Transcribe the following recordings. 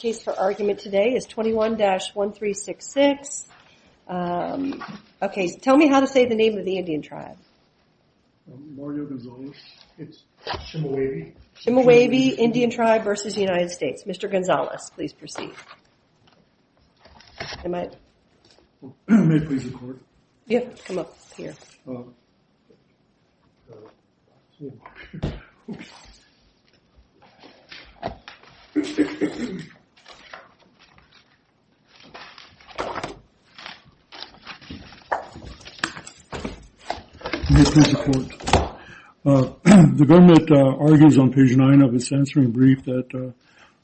case for argument today is 21-1366. Okay, tell me how to say the name of the Indian Tribe. Chemehuevi Indian Tribe v. United States. Mr. Gonzales, please proceed. May I? May I please record? Yes, come up here. May I please record? The government argues on page 9 of its censoring brief that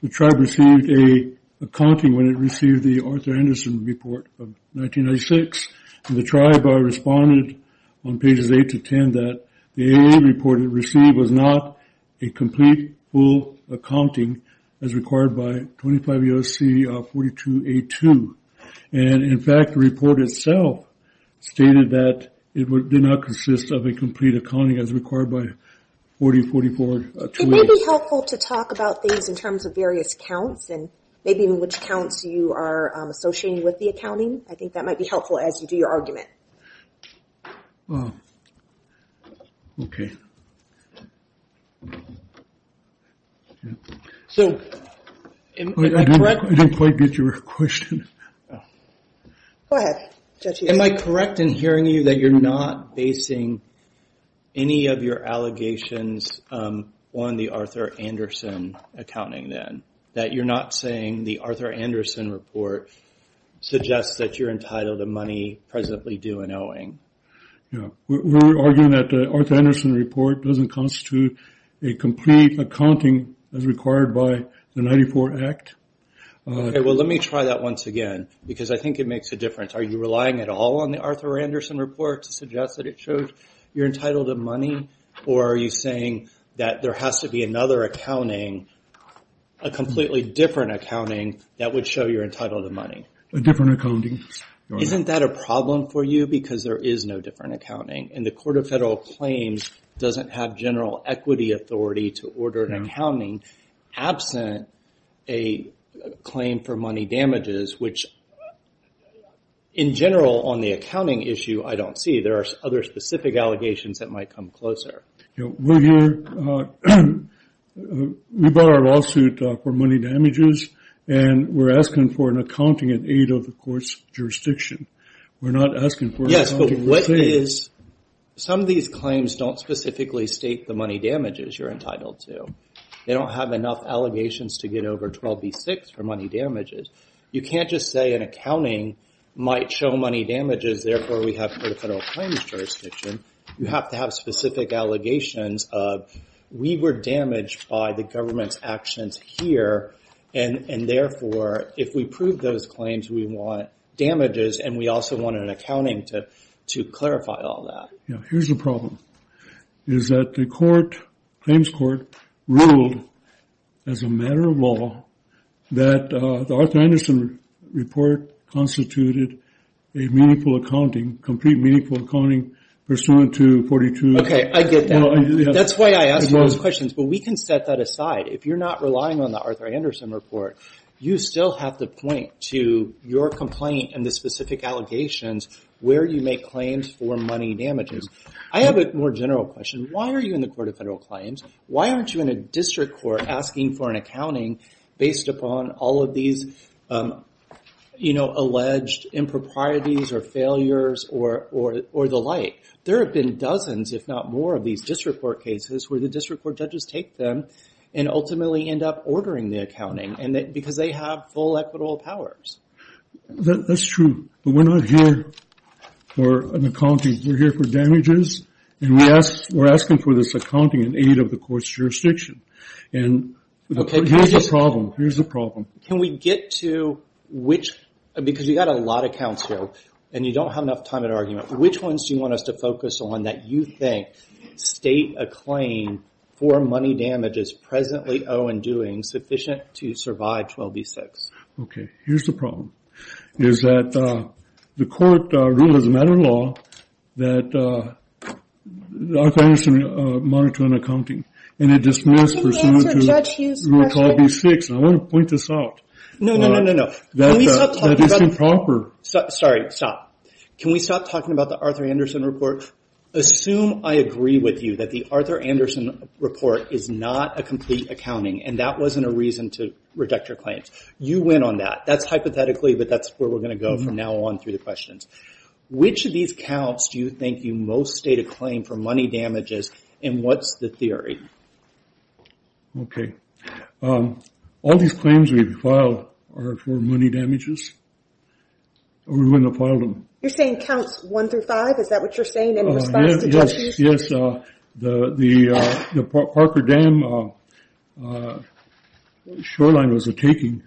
the tribe received a complete accounting when it received the Arthur Anderson report of 1996. The tribe responded on pages 8-10 that the AA report it received was not a complete, full accounting as required by 25 U.S.C. 42-82. And in fact, the report itself stated that it did not consist of a complete accounting as required by 40-44-28. Would it be helpful to talk about things in terms of various counts and maybe even which counts you are associating with the accounting? I think that might be helpful as you do your argument. Okay. I don't quite get your question. Go ahead. Am I correct in hearing you that you're not basing any of your allegations on the Arthur Anderson accounting then? That you're not saying the Arthur Anderson report suggests that you're entitled to money as you presently do in Owing? Yeah. We're arguing that the Arthur Anderson report doesn't constitute a complete accounting as required by the 94 Act. Okay. Well, let me try that once again because I think it makes a difference. Are you relying at all on the Arthur Anderson report to suggest that it shows you're entitled to money or are you saying that there has to be another accounting, a completely different accounting that would show you're entitled to money? Isn't that a problem for you because there is no different accounting and the Court of Federal Claims doesn't have general equity authority to order an accounting absent a claim for money damages, which in general on the accounting issue I don't see. There are other specific allegations that might come closer. We brought our lawsuit for money damages and we're asking for an accounting in aid of the court's jurisdiction. We're not asking for an accounting of the same. Yes, but what is, some of these claims don't specifically state the money damages you're entitled to. They don't have enough allegations to get over 12B6 for money damages. You can't just say an accounting might show money damages, therefore we have Court of Federal Claims jurisdiction. You have to have specific allegations of we were damaged by the government's actions here and therefore if we prove those claims we want damages and we also want an accounting to clarify all that. Here's the problem is that the court, claims court, ruled as a matter of law that the Arthur Anderson report constituted a meaningful accounting, complete meaningful accounting pursuant to 42. Okay, I get that. That's why I ask those questions, but we can set that aside. If you're not relying on the Arthur Anderson report, you still have to point to your complaint and the specific allegations where you make claims for money damages. I have a more general question. Why are you in the Court of Federal Claims? Why aren't you in a district court asking for an accounting based upon all of these alleged improprieties or failures or the like? There have been dozens if not more of these district court cases where the district court judges take them and ultimately end up ordering the accounting because they have full equitable powers. That's true, but we're not here for an accounting. We're here for damages. We're asking for this accounting in aid of the court's jurisdiction. Here's the problem. Can we get to which, because you've got a lot of counts here and you don't have enough time to argue, which ones do you want us to focus on that you think state a claim for money damages presently owe in doing sufficient to survive 12b-6? Okay, here's the problem. Is that the court ruled as a matter of law that Arthur Anderson monitored an accounting and it dismissed pursuant to 12b-6. I want to point this out. No, no, no, no, no. That is improper. Sorry, stop. Can we stop talking about the Arthur Anderson report? Assume I agree with you that the Arthur Anderson report is not a complete accounting and that wasn't a reason to reject your claims. You went on that. That's hypothetically, but that's where we're going to go from now on through the questions. Which of these counts do you think you most state a claim for money damages and what's the theory? Okay. All these claims we've filed are for money damages. We wouldn't have filed them. You're saying counts one through five? Is that what you're saying in response to judges? Yes, the Parker Dam shoreline was a taking.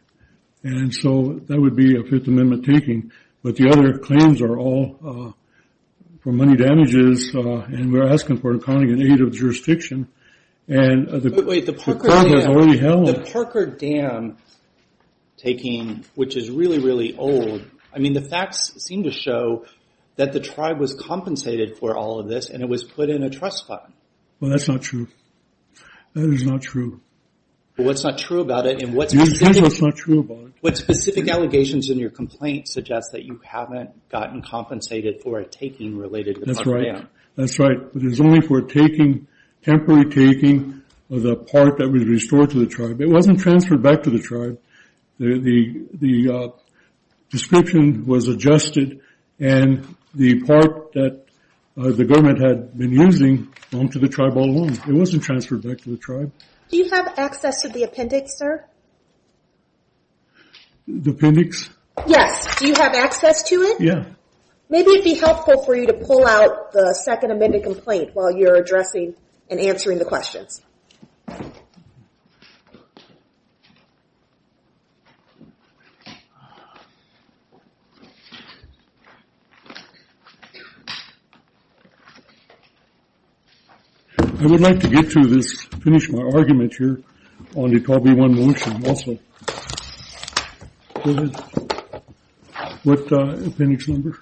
And so that would be a Fifth Amendment taking. But the other claims are all for money damages. And we're asking for accounting and aid of jurisdiction. The Parker Dam taking, which is really, really old. I mean, the facts seem to show that the tribe was compensated for all of this and it was put in a trust fund. Well, that's not true. That is not true. Well, what's not true about it and what specific allegations in your complaint suggests that you haven't gotten compensated for a taking related to the Parker Dam? That's right. That's right. It was only for a temporary taking of the part that was restored to the tribe. It wasn't transferred back to the tribe. The description was adjusted and the part that the government had been using went to the tribe all along. It wasn't transferred back to the tribe. Do you have access to the appendix, sir? The appendix? Yes. Do you have access to it? Yeah. Maybe it would be helpful for you to pull out the Second Amendment complaint while you're addressing and answering the questions. I would like to get through this, finish my argument here on the 12B1 motion also. Go ahead. What appendix number?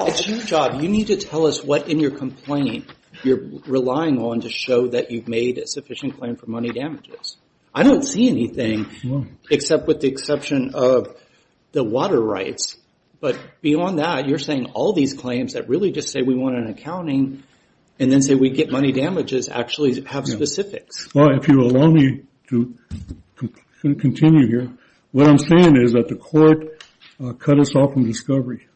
It's your job. You need to tell us what in your complaint you're relying on to show that you've made a sufficient claim for money damages. I don't see anything except with the exception of the water rights. But beyond that, you're saying all these claims that really just say we want an accounting and then say we get money damages actually have specifics. Well, if you'll allow me to continue here, what I'm saying is that the court cut us off from discovery.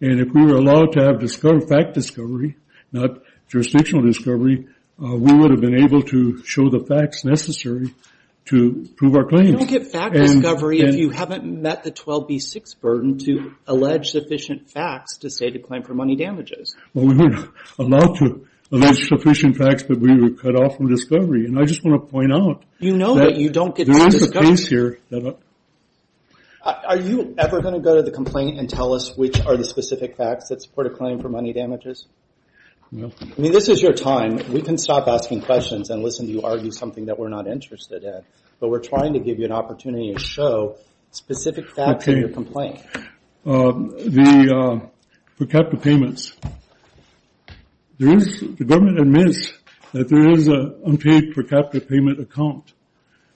If we were allowed to have fact discovery, not jurisdictional discovery, we would have been able to show the facts necessary to prove our claim. You don't get fact discovery if you haven't met the 12B6 burden to allege sufficient facts to say to claim for money damages. Well, we were allowed to allege sufficient facts, but we were cut off from discovery. I just want to point out that there is a case here. Are you ever going to go to the complaint and tell us which are the specific facts that support a claim for money damages? No. I mean, this is your time. We can stop asking questions and listen to you argue something that we're not interested in, but we're trying to give you an opportunity to show specific facts in your complaint. Okay. The per capita payments. The government admits that there is an unpaid per capita payment account,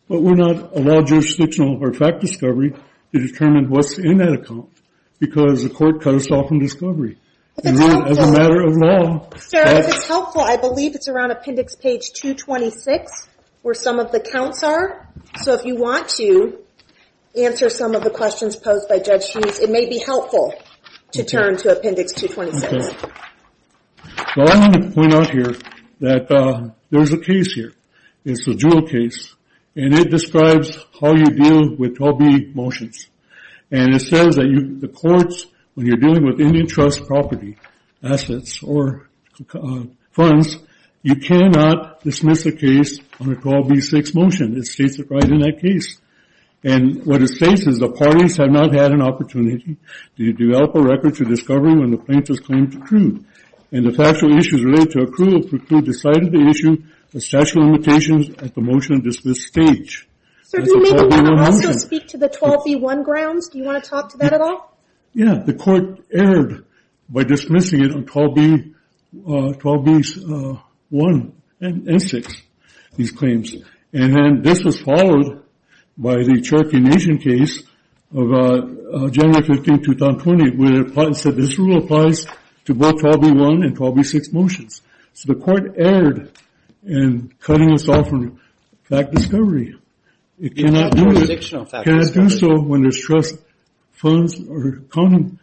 but we're not allowed jurisdictional or fact discovery to determine what's in that account because the court cut us off from discovery. If it's helpful, I believe it's around appendix page 226 where some of the counts are, so if you want to answer some of the questions posed by Judge Hughes, it may be helpful to turn to appendix 226. Okay. Well, I want to point out here that there's a case here. It's a dual case, and it describes how you deal with 12b motions, and it says that the courts, when you're dealing with Indian Trust property, assets, or funds, you cannot dismiss a case on a 12b6 motion. It states it right in that case, and what it states is the parties have not had an opportunity to develop a record to discovery when the plaintiff's claim is true, and the factual issues related to approval preclude the site of the issue, the statute of limitations, and the motion at this stage. Sir, do we make a motion to speak to the 12b1 grounds? Do you want to talk to that at all? Yeah. The court erred by dismissing it on 12b1 and 6, these claims, and then this was followed by the Cherokee Nation case of January 15, 2020, where the plaintiff said this rule applies to both 12b1 and 12b6 motions. So the court erred in cutting us off from fact discovery. It cannot do it. It's a jurisdictional fact discovery. It cannot do so when there's trust funds or common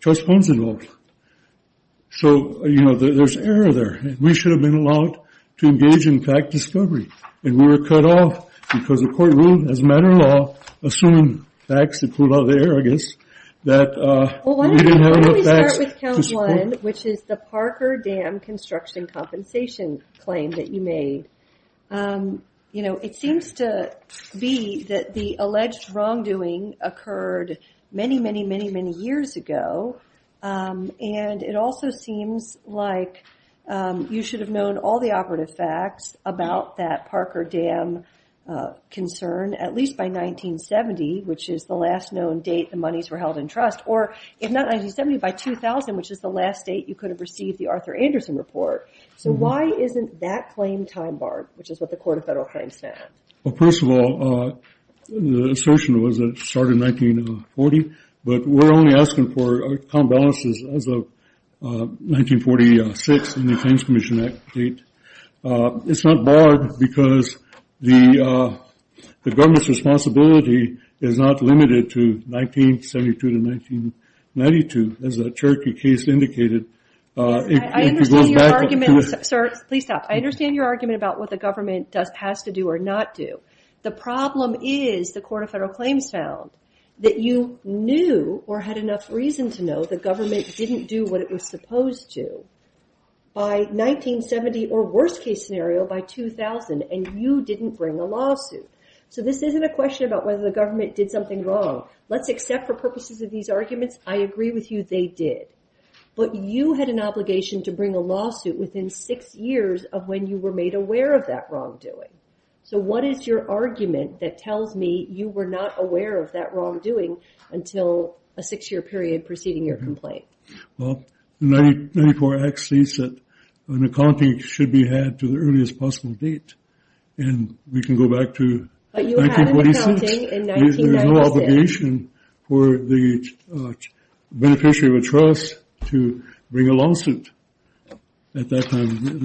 trust funds involved. So, you know, there's error there. We should have been allowed to engage in fact discovery, and we were cut off because the court ruled, as a matter of law, I guess, that we didn't have enough facts to support. Well, why don't we start with count one, which is the Parker Dam construction compensation claim that you made. You know, it seems to be that the alleged wrongdoing occurred many, many, many, many years ago, and it also seems like you should have known all the operative facts about that Parker Dam concern at least by 1970, which is the last known date the monies were held in trust, or if not 1970, by 2000, which is the last date you could have received the Arthur Anderson report. So why isn't that claim time-barred, which is what the Court of Federal Claims said? Well, first of all, the assertion was that it started in 1940, but we're only asking for common balances as of 1946 in the Claims Commission Act. It's not barred because the government's responsibility is not limited to 1972 to 1992, as the Cherokee case indicated. I understand your argument. Sir, please stop. I understand your argument about what the government has to do or not do. The problem is, the Court of Federal Claims found, that you knew or had enough reason to know the government didn't do what it was supposed to. By 1970, or worst-case scenario, by 2000, and you didn't bring a lawsuit. So this isn't a question about whether the government did something wrong. Let's accept for purposes of these arguments, I agree with you, they did. But you had an obligation to bring a lawsuit within six years of when you were made aware of that wrongdoing. So what is your argument that tells me you were not aware of that wrongdoing until a six-year period preceding your complaint? Well, the 1994 Act states that an accounting should be had to the earliest possible date. And we can go back to 1946. But you had an accounting in 1996. There is no obligation for the beneficiary of a trust to bring a lawsuit at that time.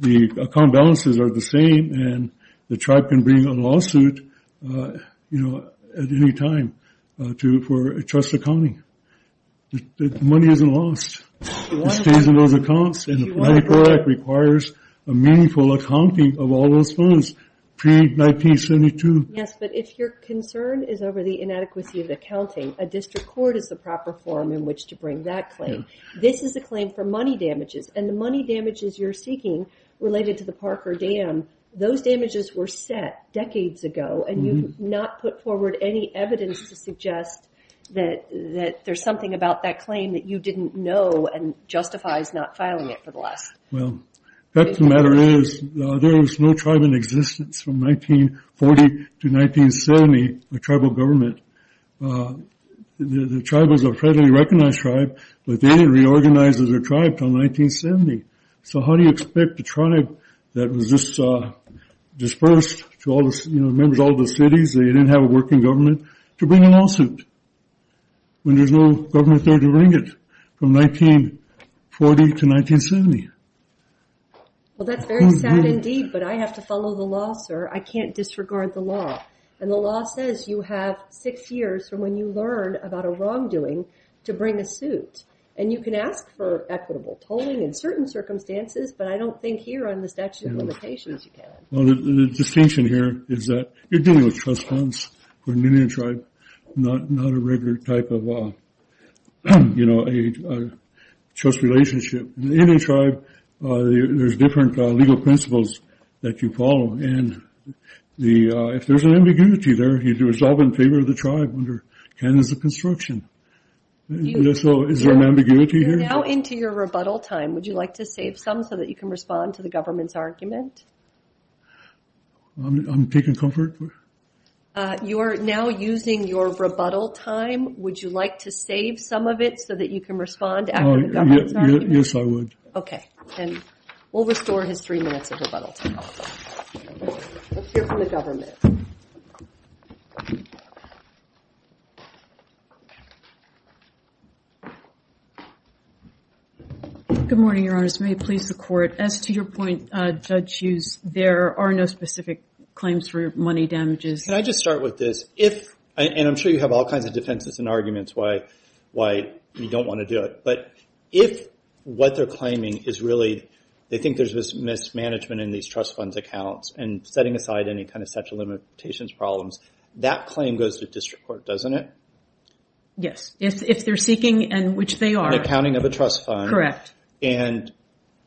The account balances are the same, and the tribe can bring a lawsuit, you know, at any time for a trust accounting. The money isn't lost. It stays in those accounts. And the 1994 Act requires a meaningful accounting of all those funds pre-1972. Yes, but if your concern is over the inadequacy of accounting, a district court is the proper forum in which to bring that claim. This is a claim for money damages. And the money damages you're seeking, related to the Parker Dam, those damages were set decades ago, and you've not put forward any evidence to suggest that there's something about that claim that you didn't know and justifies not filing it for the last... Well, the fact of the matter is, there was no tribe in existence from 1940 to 1970, the tribal government. The tribe was a readily recognized tribe, but they didn't reorganize as a tribe until 1970. So how do you expect a tribe that was just dispersed, you know, members of all the cities, they didn't have a working government, to bring a lawsuit when there's no government there to bring it from 1940 to 1970? Well, that's very sad indeed, but I have to follow the law, sir. I can't disregard the law. And the law says you have six years from when you learn about a wrongdoing to bring a suit. And you can ask for equitable tolling in certain circumstances, but I don't think here on the statute of limitations you can. Well, the distinction here is that you're dealing with trust funds for an Indian tribe, not a regular type of, you know, a trust relationship. In the Indian tribe, there's different legal principles that you follow. And if there's an ambiguity there, you do resolve in favor of the tribe under canons of construction. So is there an ambiguity here? We're now into your rebuttal time. Would you like to save some so that you can respond to the government's argument? I'm taking comfort. You are now using your rebuttal time. Would you like to save some of it so that you can respond after the government's argument? Yes, I would. Okay. And we'll restore his three minutes of rebuttal time. Let's hear from the government. Go ahead. Good morning, Your Honors. May it please the Court. As to your point, Judge Hughes, there are no specific claims for money damages. Can I just start with this? And I'm sure you have all kinds of defenses and arguments why you don't want to do it. But if what they're claiming is really they think there's mismanagement in these trust funds accounts and setting aside any kind of statute of limitations problems, that claim goes to district court, doesn't it? Yes, if they're seeking and which they are. An accounting of a trust fund. Correct. And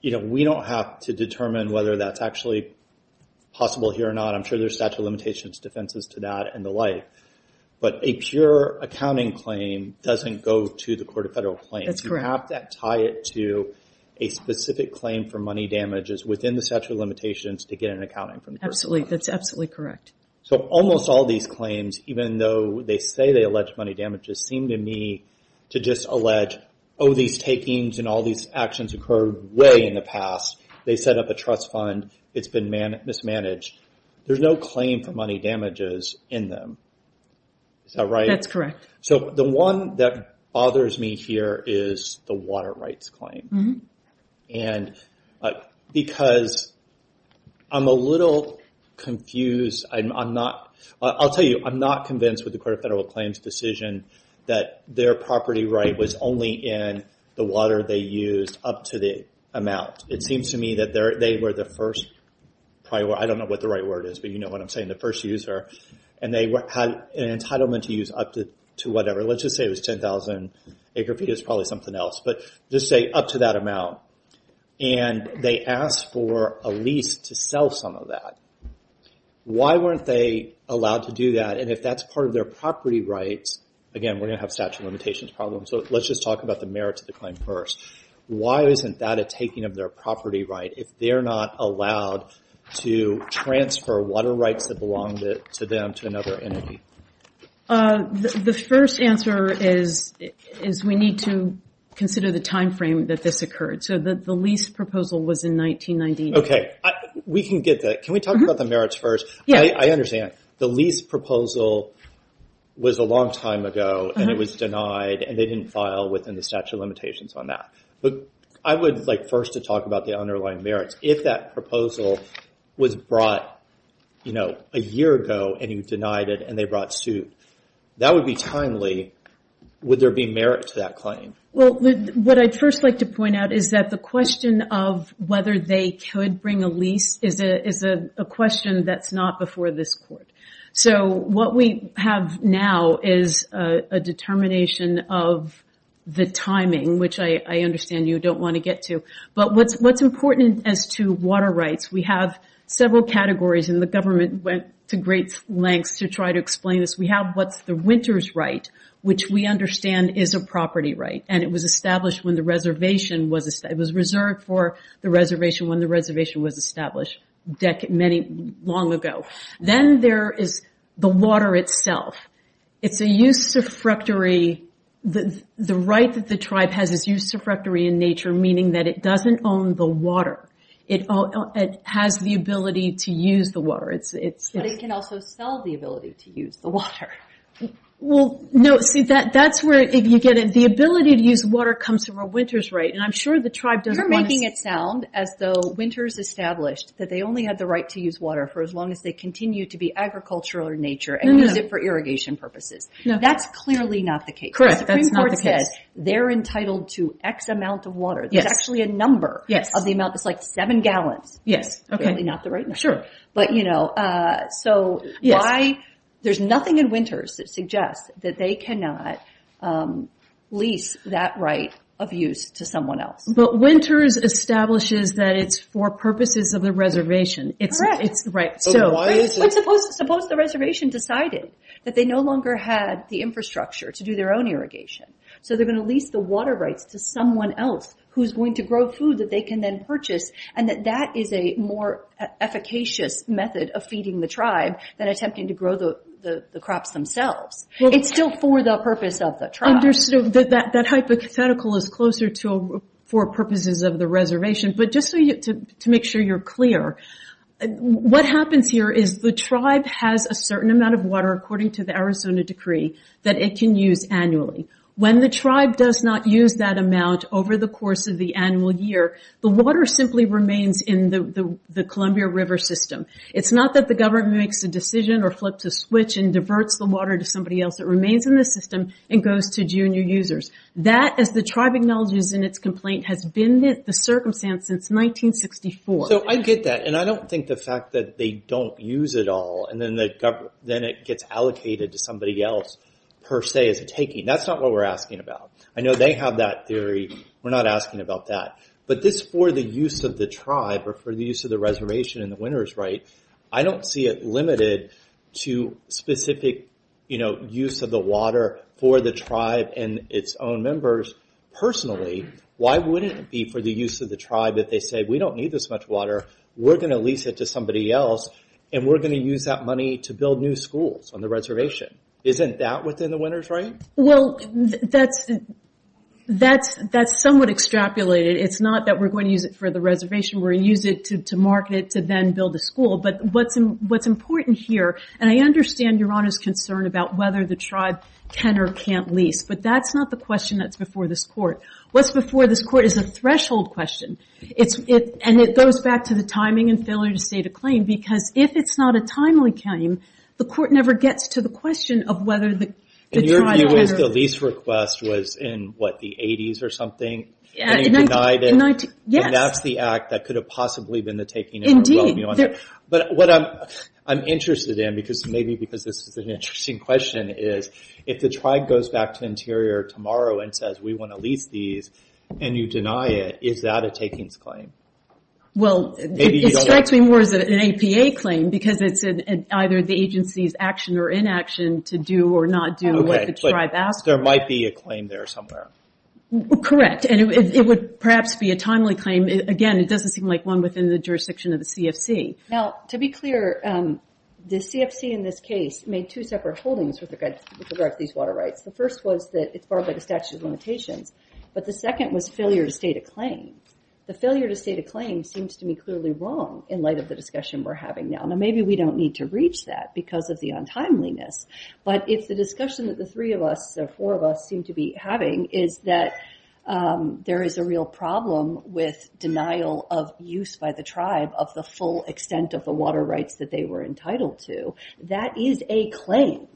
we don't have to determine whether that's actually possible here or not. I'm sure there's statute of limitations defenses to that and the like. But a pure accounting claim doesn't go to the Court of Federal Claims. That's correct. So we don't have to tie it to a specific claim for money damages within the statute of limitations to get an accounting from the Court of Federal Claims. That's absolutely correct. So almost all these claims, even though they say they allege money damages, seem to me to just allege, oh, these takings and all these actions occurred way in the past. They set up a trust fund. It's been mismanaged. There's no claim for money damages in them. Is that right? That's correct. So the one that bothers me here is the water rights claim. Because I'm a little confused. I'll tell you, I'm not convinced with the Court of Federal Claims' decision that their property right was only in the water they used up to the amount. It seems to me that they were the first prior. I don't know what the right word is, but you know what I'm saying, the first user. And they had an entitlement to use up to whatever. Let's just say it was 10,000 acre feet. It was probably something else. But just say up to that amount. And they asked for a lease to sell some of that. Why weren't they allowed to do that? And if that's part of their property rights, again, we're going to have statute of limitations problems, so let's just talk about the merits of the claim first. Why isn't that a taking of their property right? If they're not allowed to transfer water rights that belong to them to another entity? The first answer is we need to consider the time frame that this occurred. So the lease proposal was in 1999. Okay. We can get that. Can we talk about the merits first? Yeah. I understand. The lease proposal was a long time ago, and it was denied, and they didn't file within the statute of limitations on that. I would like first to talk about the underlying merits. If that proposal was brought a year ago, and you denied it, and they brought suit, that would be timely. Would there be merit to that claim? What I'd first like to point out is that the question of whether they could bring a lease is a question that's not before this court. So what we have now is a determination of the timing, which I understand you don't want to get to. But what's important as to water rights, we have several categories, and the government went to great lengths to try to explain this. We have what's the winter's right, which we understand is a property right, and it was established when the reservation was established. It was reserved for the reservation when the reservation was established long ago. Then there is the water itself. It's a usurpatory. The right that the tribe has is usurpatory in nature, meaning that it doesn't own the water. It has the ability to use the water. But it can also sell the ability to use the water. Well, no, see, that's where if you get it, the ability to use water comes from a winter's right, and I'm sure the tribe doesn't want to see that. You're making it sound as though winter's established, that they only have the right to use water for as long as they continue to be agricultural in nature and use it for irrigation purposes. That's clearly not the case. The Supreme Court says they're entitled to X amount of water. There's actually a number of the amount. It's like seven gallons. Clearly not the right number. Sure. But, you know, so there's nothing in winters that suggests that they cannot lease that right of use to someone else. But winters establishes that it's for purposes of the reservation. Correct. Right. Suppose the reservation decided that they no longer had the infrastructure to do their own irrigation, so they're going to lease the water rights to someone else who's going to grow food that they can then purchase, and that that is a more efficacious method of feeding the tribe than attempting to grow the crops themselves. It's still for the purpose of the tribe. That hypothetical is closer to for purposes of the reservation. But just to make sure you're clear, what happens here is the tribe has a certain amount of water, according to the Arizona decree, that it can use annually. When the tribe does not use that amount over the course of the annual year, the water simply remains in the Columbia River system. It's not that the government makes a decision or flips a switch and diverts the water to somebody else. It remains in the system and goes to junior users. That, as the tribe acknowledges in its complaint, has been the circumstance since 1964. I get that, and I don't think the fact that they don't use it all and then it gets allocated to somebody else, per se, is a taking. That's not what we're asking about. I know they have that theory. We're not asking about that. But this for the use of the tribe or for the use of the reservation and the winter's right, I don't see it limited to specific use of the water for the tribe and its own members. Personally, why wouldn't it be for the use of the tribe if they say, we don't need this much water, we're going to lease it to somebody else, and we're going to use that money to build new schools on the reservation? Isn't that within the winter's right? Well, that's somewhat extrapolated. It's not that we're going to use it for the reservation. We're going to use it to market it to then build a school. But what's important here, and I understand Your Honor's concern about whether the tribe can or can't lease, but that's not the question that's before this court. What's before this court is a threshold question. And it goes back to the timing and failure to state a claim, because if it's not a timely claim, the court never gets to the question of whether the tribe can or can't. And your view is the lease request was in, what, the 80s or something? And you denied it? Yes. And that's the act that could have possibly been the taking of a well-meaning land. Indeed. But what I'm interested in, maybe because this is an interesting question, is if the tribe goes back to Interior tomorrow and says, we want to lease these, and you deny it, is that a takings claim? Well, it strikes me more as an APA claim, because it's either the agency's action or inaction to do or not do what the tribe asked for. There might be a claim there somewhere. Correct. And it would perhaps be a timely claim. Again, it doesn't seem like one within the jurisdiction of the CFC. Now, to be clear, the CFC in this case made two separate holdings with regard to these water rights. The first was that it's barred by the statute of limitations, but the second was failure to state a claim. The failure to state a claim seems to me clearly wrong in light of the discussion we're having now. Now, maybe we don't need to reach that because of the untimeliness, but if the discussion that the three of us or four of us seem to be having is that there is a real problem with denial of use by the tribe of the full extent of the water rights that they were entitled to, that is a claim,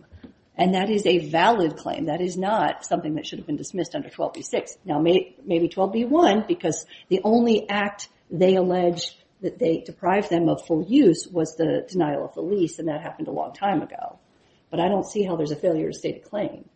and that is a valid claim. That is not something that should have been dismissed under 12b-6. Now, maybe 12b-1, because the only act they allege that they deprived them of for use was the denial of the lease, and that happened a long time ago. But I don't see how there's a failure to state a claim.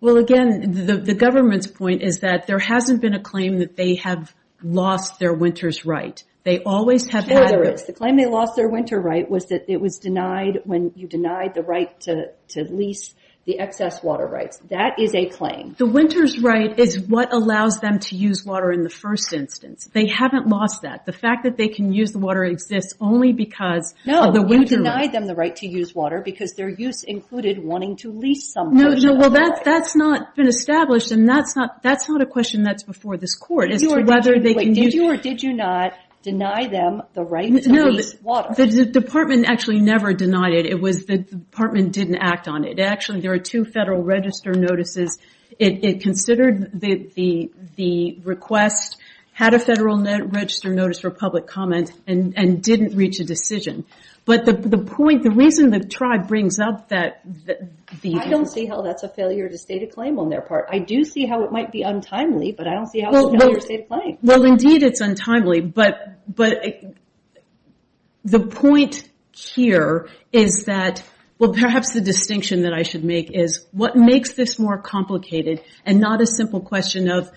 Well, again, the government's point is that there hasn't been a claim that they have lost their winter's right. They always have had it. Sure there is. The claim they lost their winter right was that it was denied when you denied the right to lease the excess water rights. That is a claim. The winter's right is what allows them to use water in the first instance. They haven't lost that. The fact that they can use the water exists only because of the winter right. No, you denied them the right to use water because their use included wanting to lease some portion of the water. Well, that's not been established, and that's not a question that's before this court as to whether they can use it. Did you or did you not deny them the right to lease water? No, the department actually never denied it. The department didn't act on it. Actually, there are two Federal Register notices. It considered the request, had a Federal Register notice for public comment, and didn't reach a decision. The reason the tribe brings up that... I don't see how that's a failure to state a claim on their part. I do see how it might be untimely, but I don't see how it's a failure to state a claim. Indeed, it's untimely, but the point here is that... Perhaps the distinction that I should make is what makes this more complicated and not a simple question of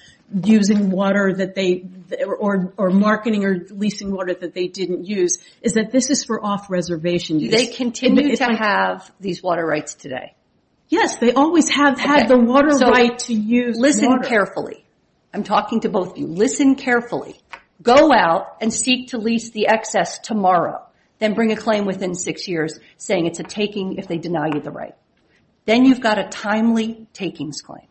using water that they... or marketing or leasing water that they didn't use is that this is for off-reservation use. Do they continue to have these water rights today? Yes, they always have had the water right to use water. Listen carefully. I'm talking to both of you. Listen carefully. Go out and seek to lease the excess tomorrow, then bring a claim within six years saying it's a taking if they deny you the right. Then you've got a timely takings claim.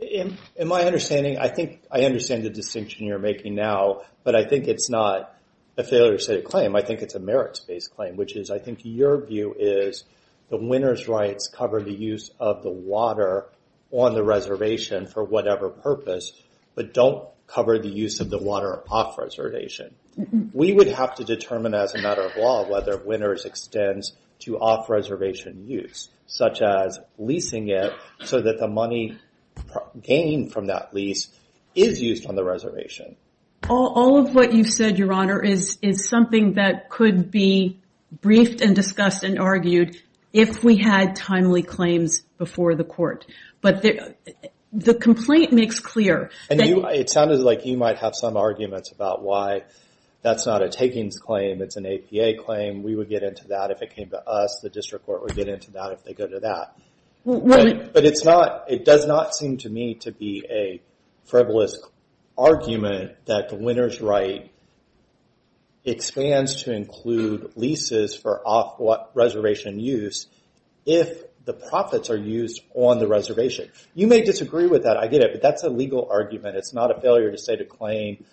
In my understanding, I think... I understand the distinction you're making now, but I think it's not a failure to state a claim. I think it's a merits-based claim, which is I think your view is the winner's rights cover the use of the water on the reservation for whatever purpose, but don't cover the use of the water off-reservation. We would have to determine as a matter of law whether winner's extends to off-reservation use, such as leasing it so that the money gained from that lease is used on the reservation. All of what you've said, Your Honor, is something that could be briefed and discussed and argued if we had timely claims before the court. But the complaint makes clear... It sounded like you might have some arguments about why that's not a takings claim. It's an APA claim. We would get into that if it came to us. The district court would get into that if they go to that. But it does not seem to me to be a frivolous argument that the winner's right expands to include leases for off-reservation use if the profits are used on the reservation. You may disagree with that. I get it, but that's a legal argument. It's not a failure to state a claim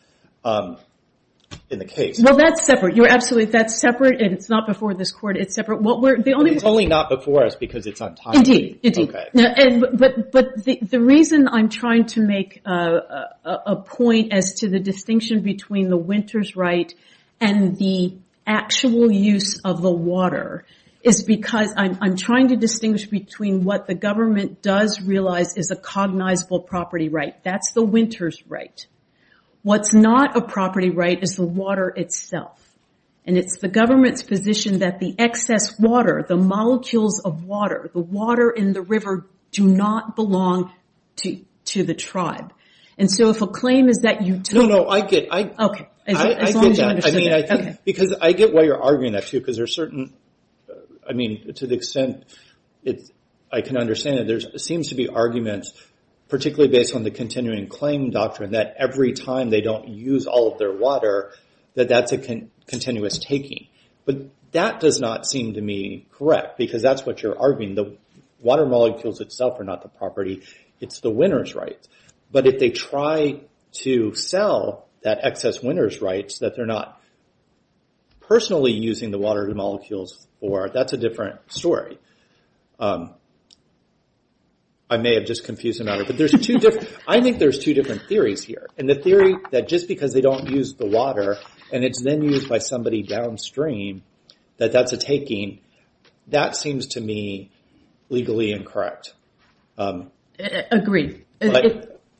in the case. Well, that's separate. You're absolutely... That's separate, and it's not before this court. It's separate. It's only not before us because it's untimely. Indeed. But the reason I'm trying to make a point as to the distinction between the winner's right and the actual use of the water is because I'm trying to distinguish between what the government does realize is a cognizable property right. That's the winner's right. What's not a property right is the water itself. And it's the government's position that the excess water, the molecules of water, the water in the river, do not belong to the tribe. And so if a claim is that you... No, no, I get that. Okay. I get that. Because I get why you're arguing that, too, because there's certain... I mean, to the extent I can understand it, there seems to be arguments, particularly based on the continuing claim doctrine, that every time they don't use all of their water, that that's a continuous taking. But that does not seem to me correct, because that's what you're arguing. The water molecules itself are not the property. It's the winner's right. But if they try to sell that excess winner's rights, that they're not personally using the water molecules for, that's a different story. I may have just confused the matter. But there's two different... I think there's two different theories here. And the theory that just because they don't use the water, and it's then used by somebody downstream, that that's a taking, that seems to me legally incorrect. Agreed.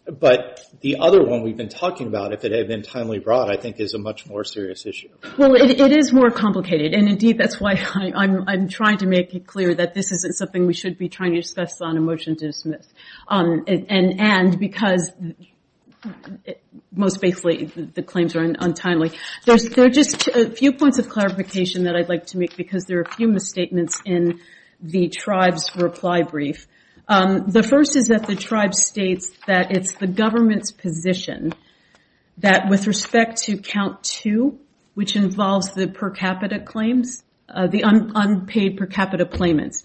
But the other one we've been talking about, if it had been timely brought, I think is a much more serious issue. Well, it is more complicated, and indeed that's why I'm trying to make it clear that this isn't something we should be trying to discuss on a motion to dismiss. And because most basically, the claims are untimely. There are just a few points of clarification that I'd like to make, because there are a few misstatements in the tribe's reply brief. The first is that the tribe states that it's the government's position that with respect to count two, which involves the per capita claims, the unpaid per capita payments,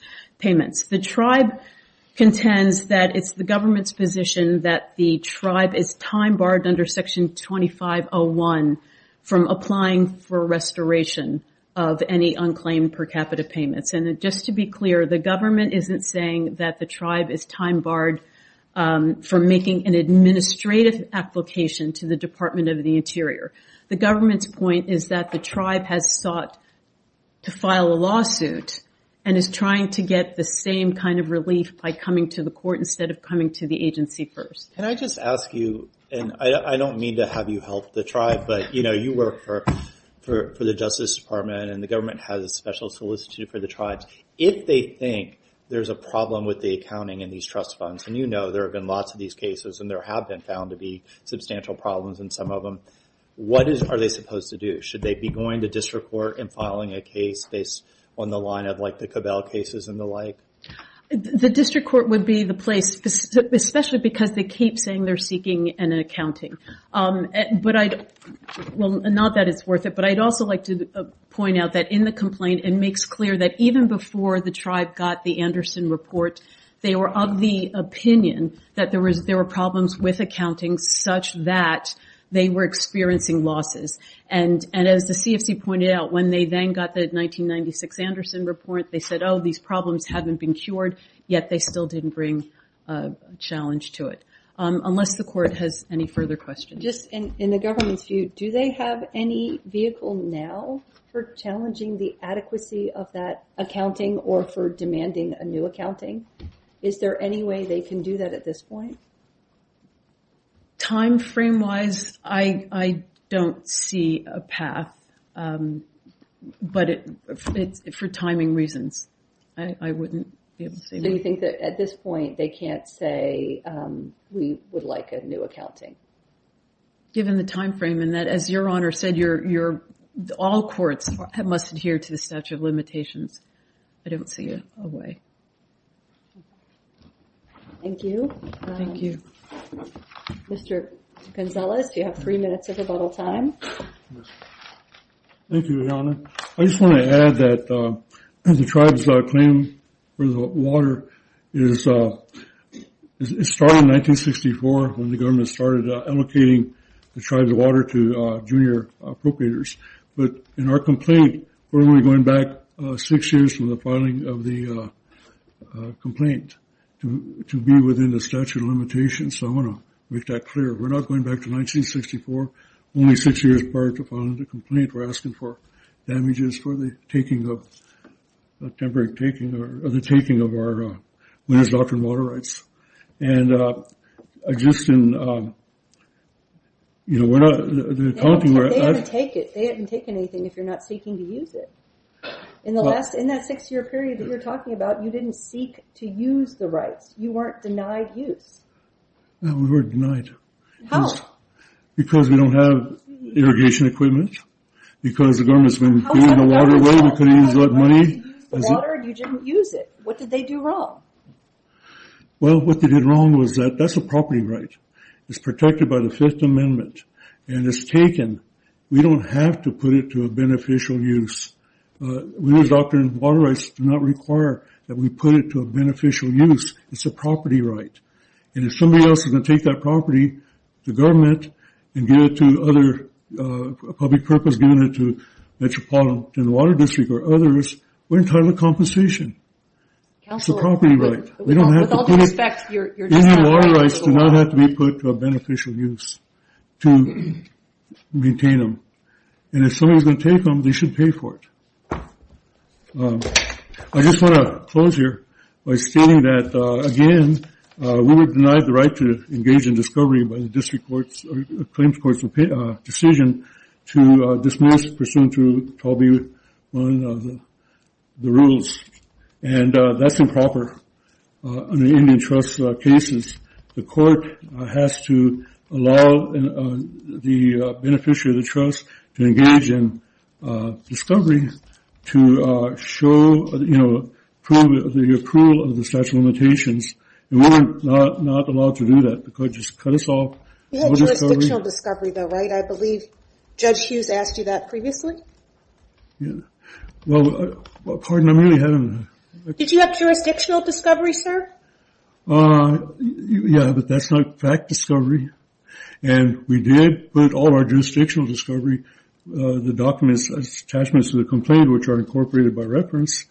the tribe contends that it's the government's position that the tribe is time barred under Section 2501 from applying for restoration of any unclaimed per capita payments. And just to be clear, the government isn't saying that the tribe is time barred from making an administrative application to the Department of the Interior. The government's point is that the tribe has sought to file a lawsuit and is trying to get the same kind of relief by coming to the court instead of coming to the agency first. Can I just ask you, and I don't mean to have you help the tribe, but you work for the Justice Department and the government has a special solicitude for the tribes. If they think there's a problem with the accounting in these trust funds, and you know there have been lots of these cases and there have been found to be substantial problems in some of them, what are they supposed to do? Should they be going to district court and filing a case based on the line of the Cabell cases and the like? The district court would be the place, especially because they keep saying they're seeking an accounting. Not that it's worth it, but I'd also like to point out that in the complaint, it makes clear that even before the tribe got the Anderson report, they were of the opinion that there were problems with accounting such that they were experiencing losses. And as the CFC pointed out, when they then got the 1996 Anderson report, they said, oh, these problems haven't been cured, yet they still didn't bring a challenge to it. Unless the court has any further questions. Just in the government's view, do they have any vehicle now for challenging the adequacy of that accounting or for demanding a new accounting? Is there any way they can do that at this point? Time frame-wise, I don't see a path. But for timing reasons, I wouldn't be able to say. So you think that at this point, they can't say we would like a new accounting? Given the time frame and that, as Your Honor said, all courts must adhere to the statute of limitations. I don't see a way. Thank you. Mr. Gonzalez, do you have three minutes of rebuttal time? Thank you, Your Honor. I just want to add that the tribe's claim for the water started in 1964 when the government started allocating the tribe's water to junior appropriators. But in our complaint, we're only going back six years from the filing of the complaint to be within the statute of limitations. So I want to make that clear. We're not going back to 1964. Only six years prior to filing the complaint, we're asking for damages for the temporary taking of our water rights. And just in... They haven't taken anything if you're not seeking to use it. In that six-year period that you're talking about, you didn't seek to use the rights. You weren't denied use. No, we were denied. How? Because we don't have irrigation equipment. Because the government's been giving the water away. We couldn't use a lot of money. You didn't use it. What did they do wrong? Well, what they did wrong was that that's a property right. It's protected by the Fifth Amendment. And it's taken. We don't have to put it to a beneficial use. Water rights do not require that we put it to a beneficial use. It's a property right. And if somebody else is going to take that property, the government, and give it to other... a public purpose, giving it to Metropolitan Water District or others, we're entitled to compensation. It's a property right. We don't have to put it... Any water rights do not have to be put to a beneficial use to maintain them. And if somebody's going to take them, they should pay for it. I just want to close here by stating that, again, we were denied the right to engage in discovery by the District Court's... Claims Court's decision to dismiss pursuant to 12B1 of the rules. And that's improper in the Indian Trust cases. The court has to allow the beneficiary of the trust to engage in discovery to show, you know, prove the approval of the statute of limitations. We were not allowed to do that because it just cut us off. We had jurisdictional discovery though, right? I believe Judge Hughes asked you that previously. Yeah. Well, pardon me, I'm really having... Did you have jurisdictional discovery, sir? Uh, yeah, but that's not fact discovery. And we did put all our jurisdictional discovery, the documents, attachments to the complaint, which are incorporated by reference.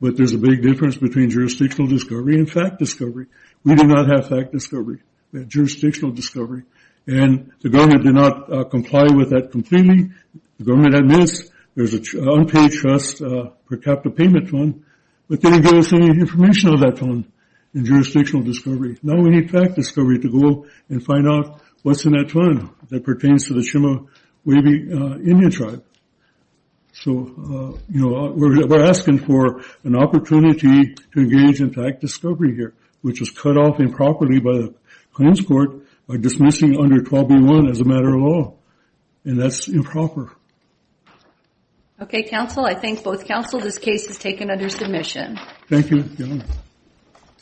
But there's a big difference between jurisdictional discovery and fact discovery. We did not have fact discovery. We had jurisdictional discovery. And the government did not comply with that completely. The government admits there's an unpaid trust per capita payment fund, but they didn't give us any information on that fund in jurisdictional discovery. Now we need fact discovery to go and find out what's in that fund that pertains to the Chima-Waibi Indian Tribe. So, you know, we're asking for an opportunity to engage in fact discovery here, which was cut off improperly by the claims court by dismissing under 12b-1 as a matter of law. And that's improper. Okay, counsel, I thank both counsel. This case is taken under submission. Thank you.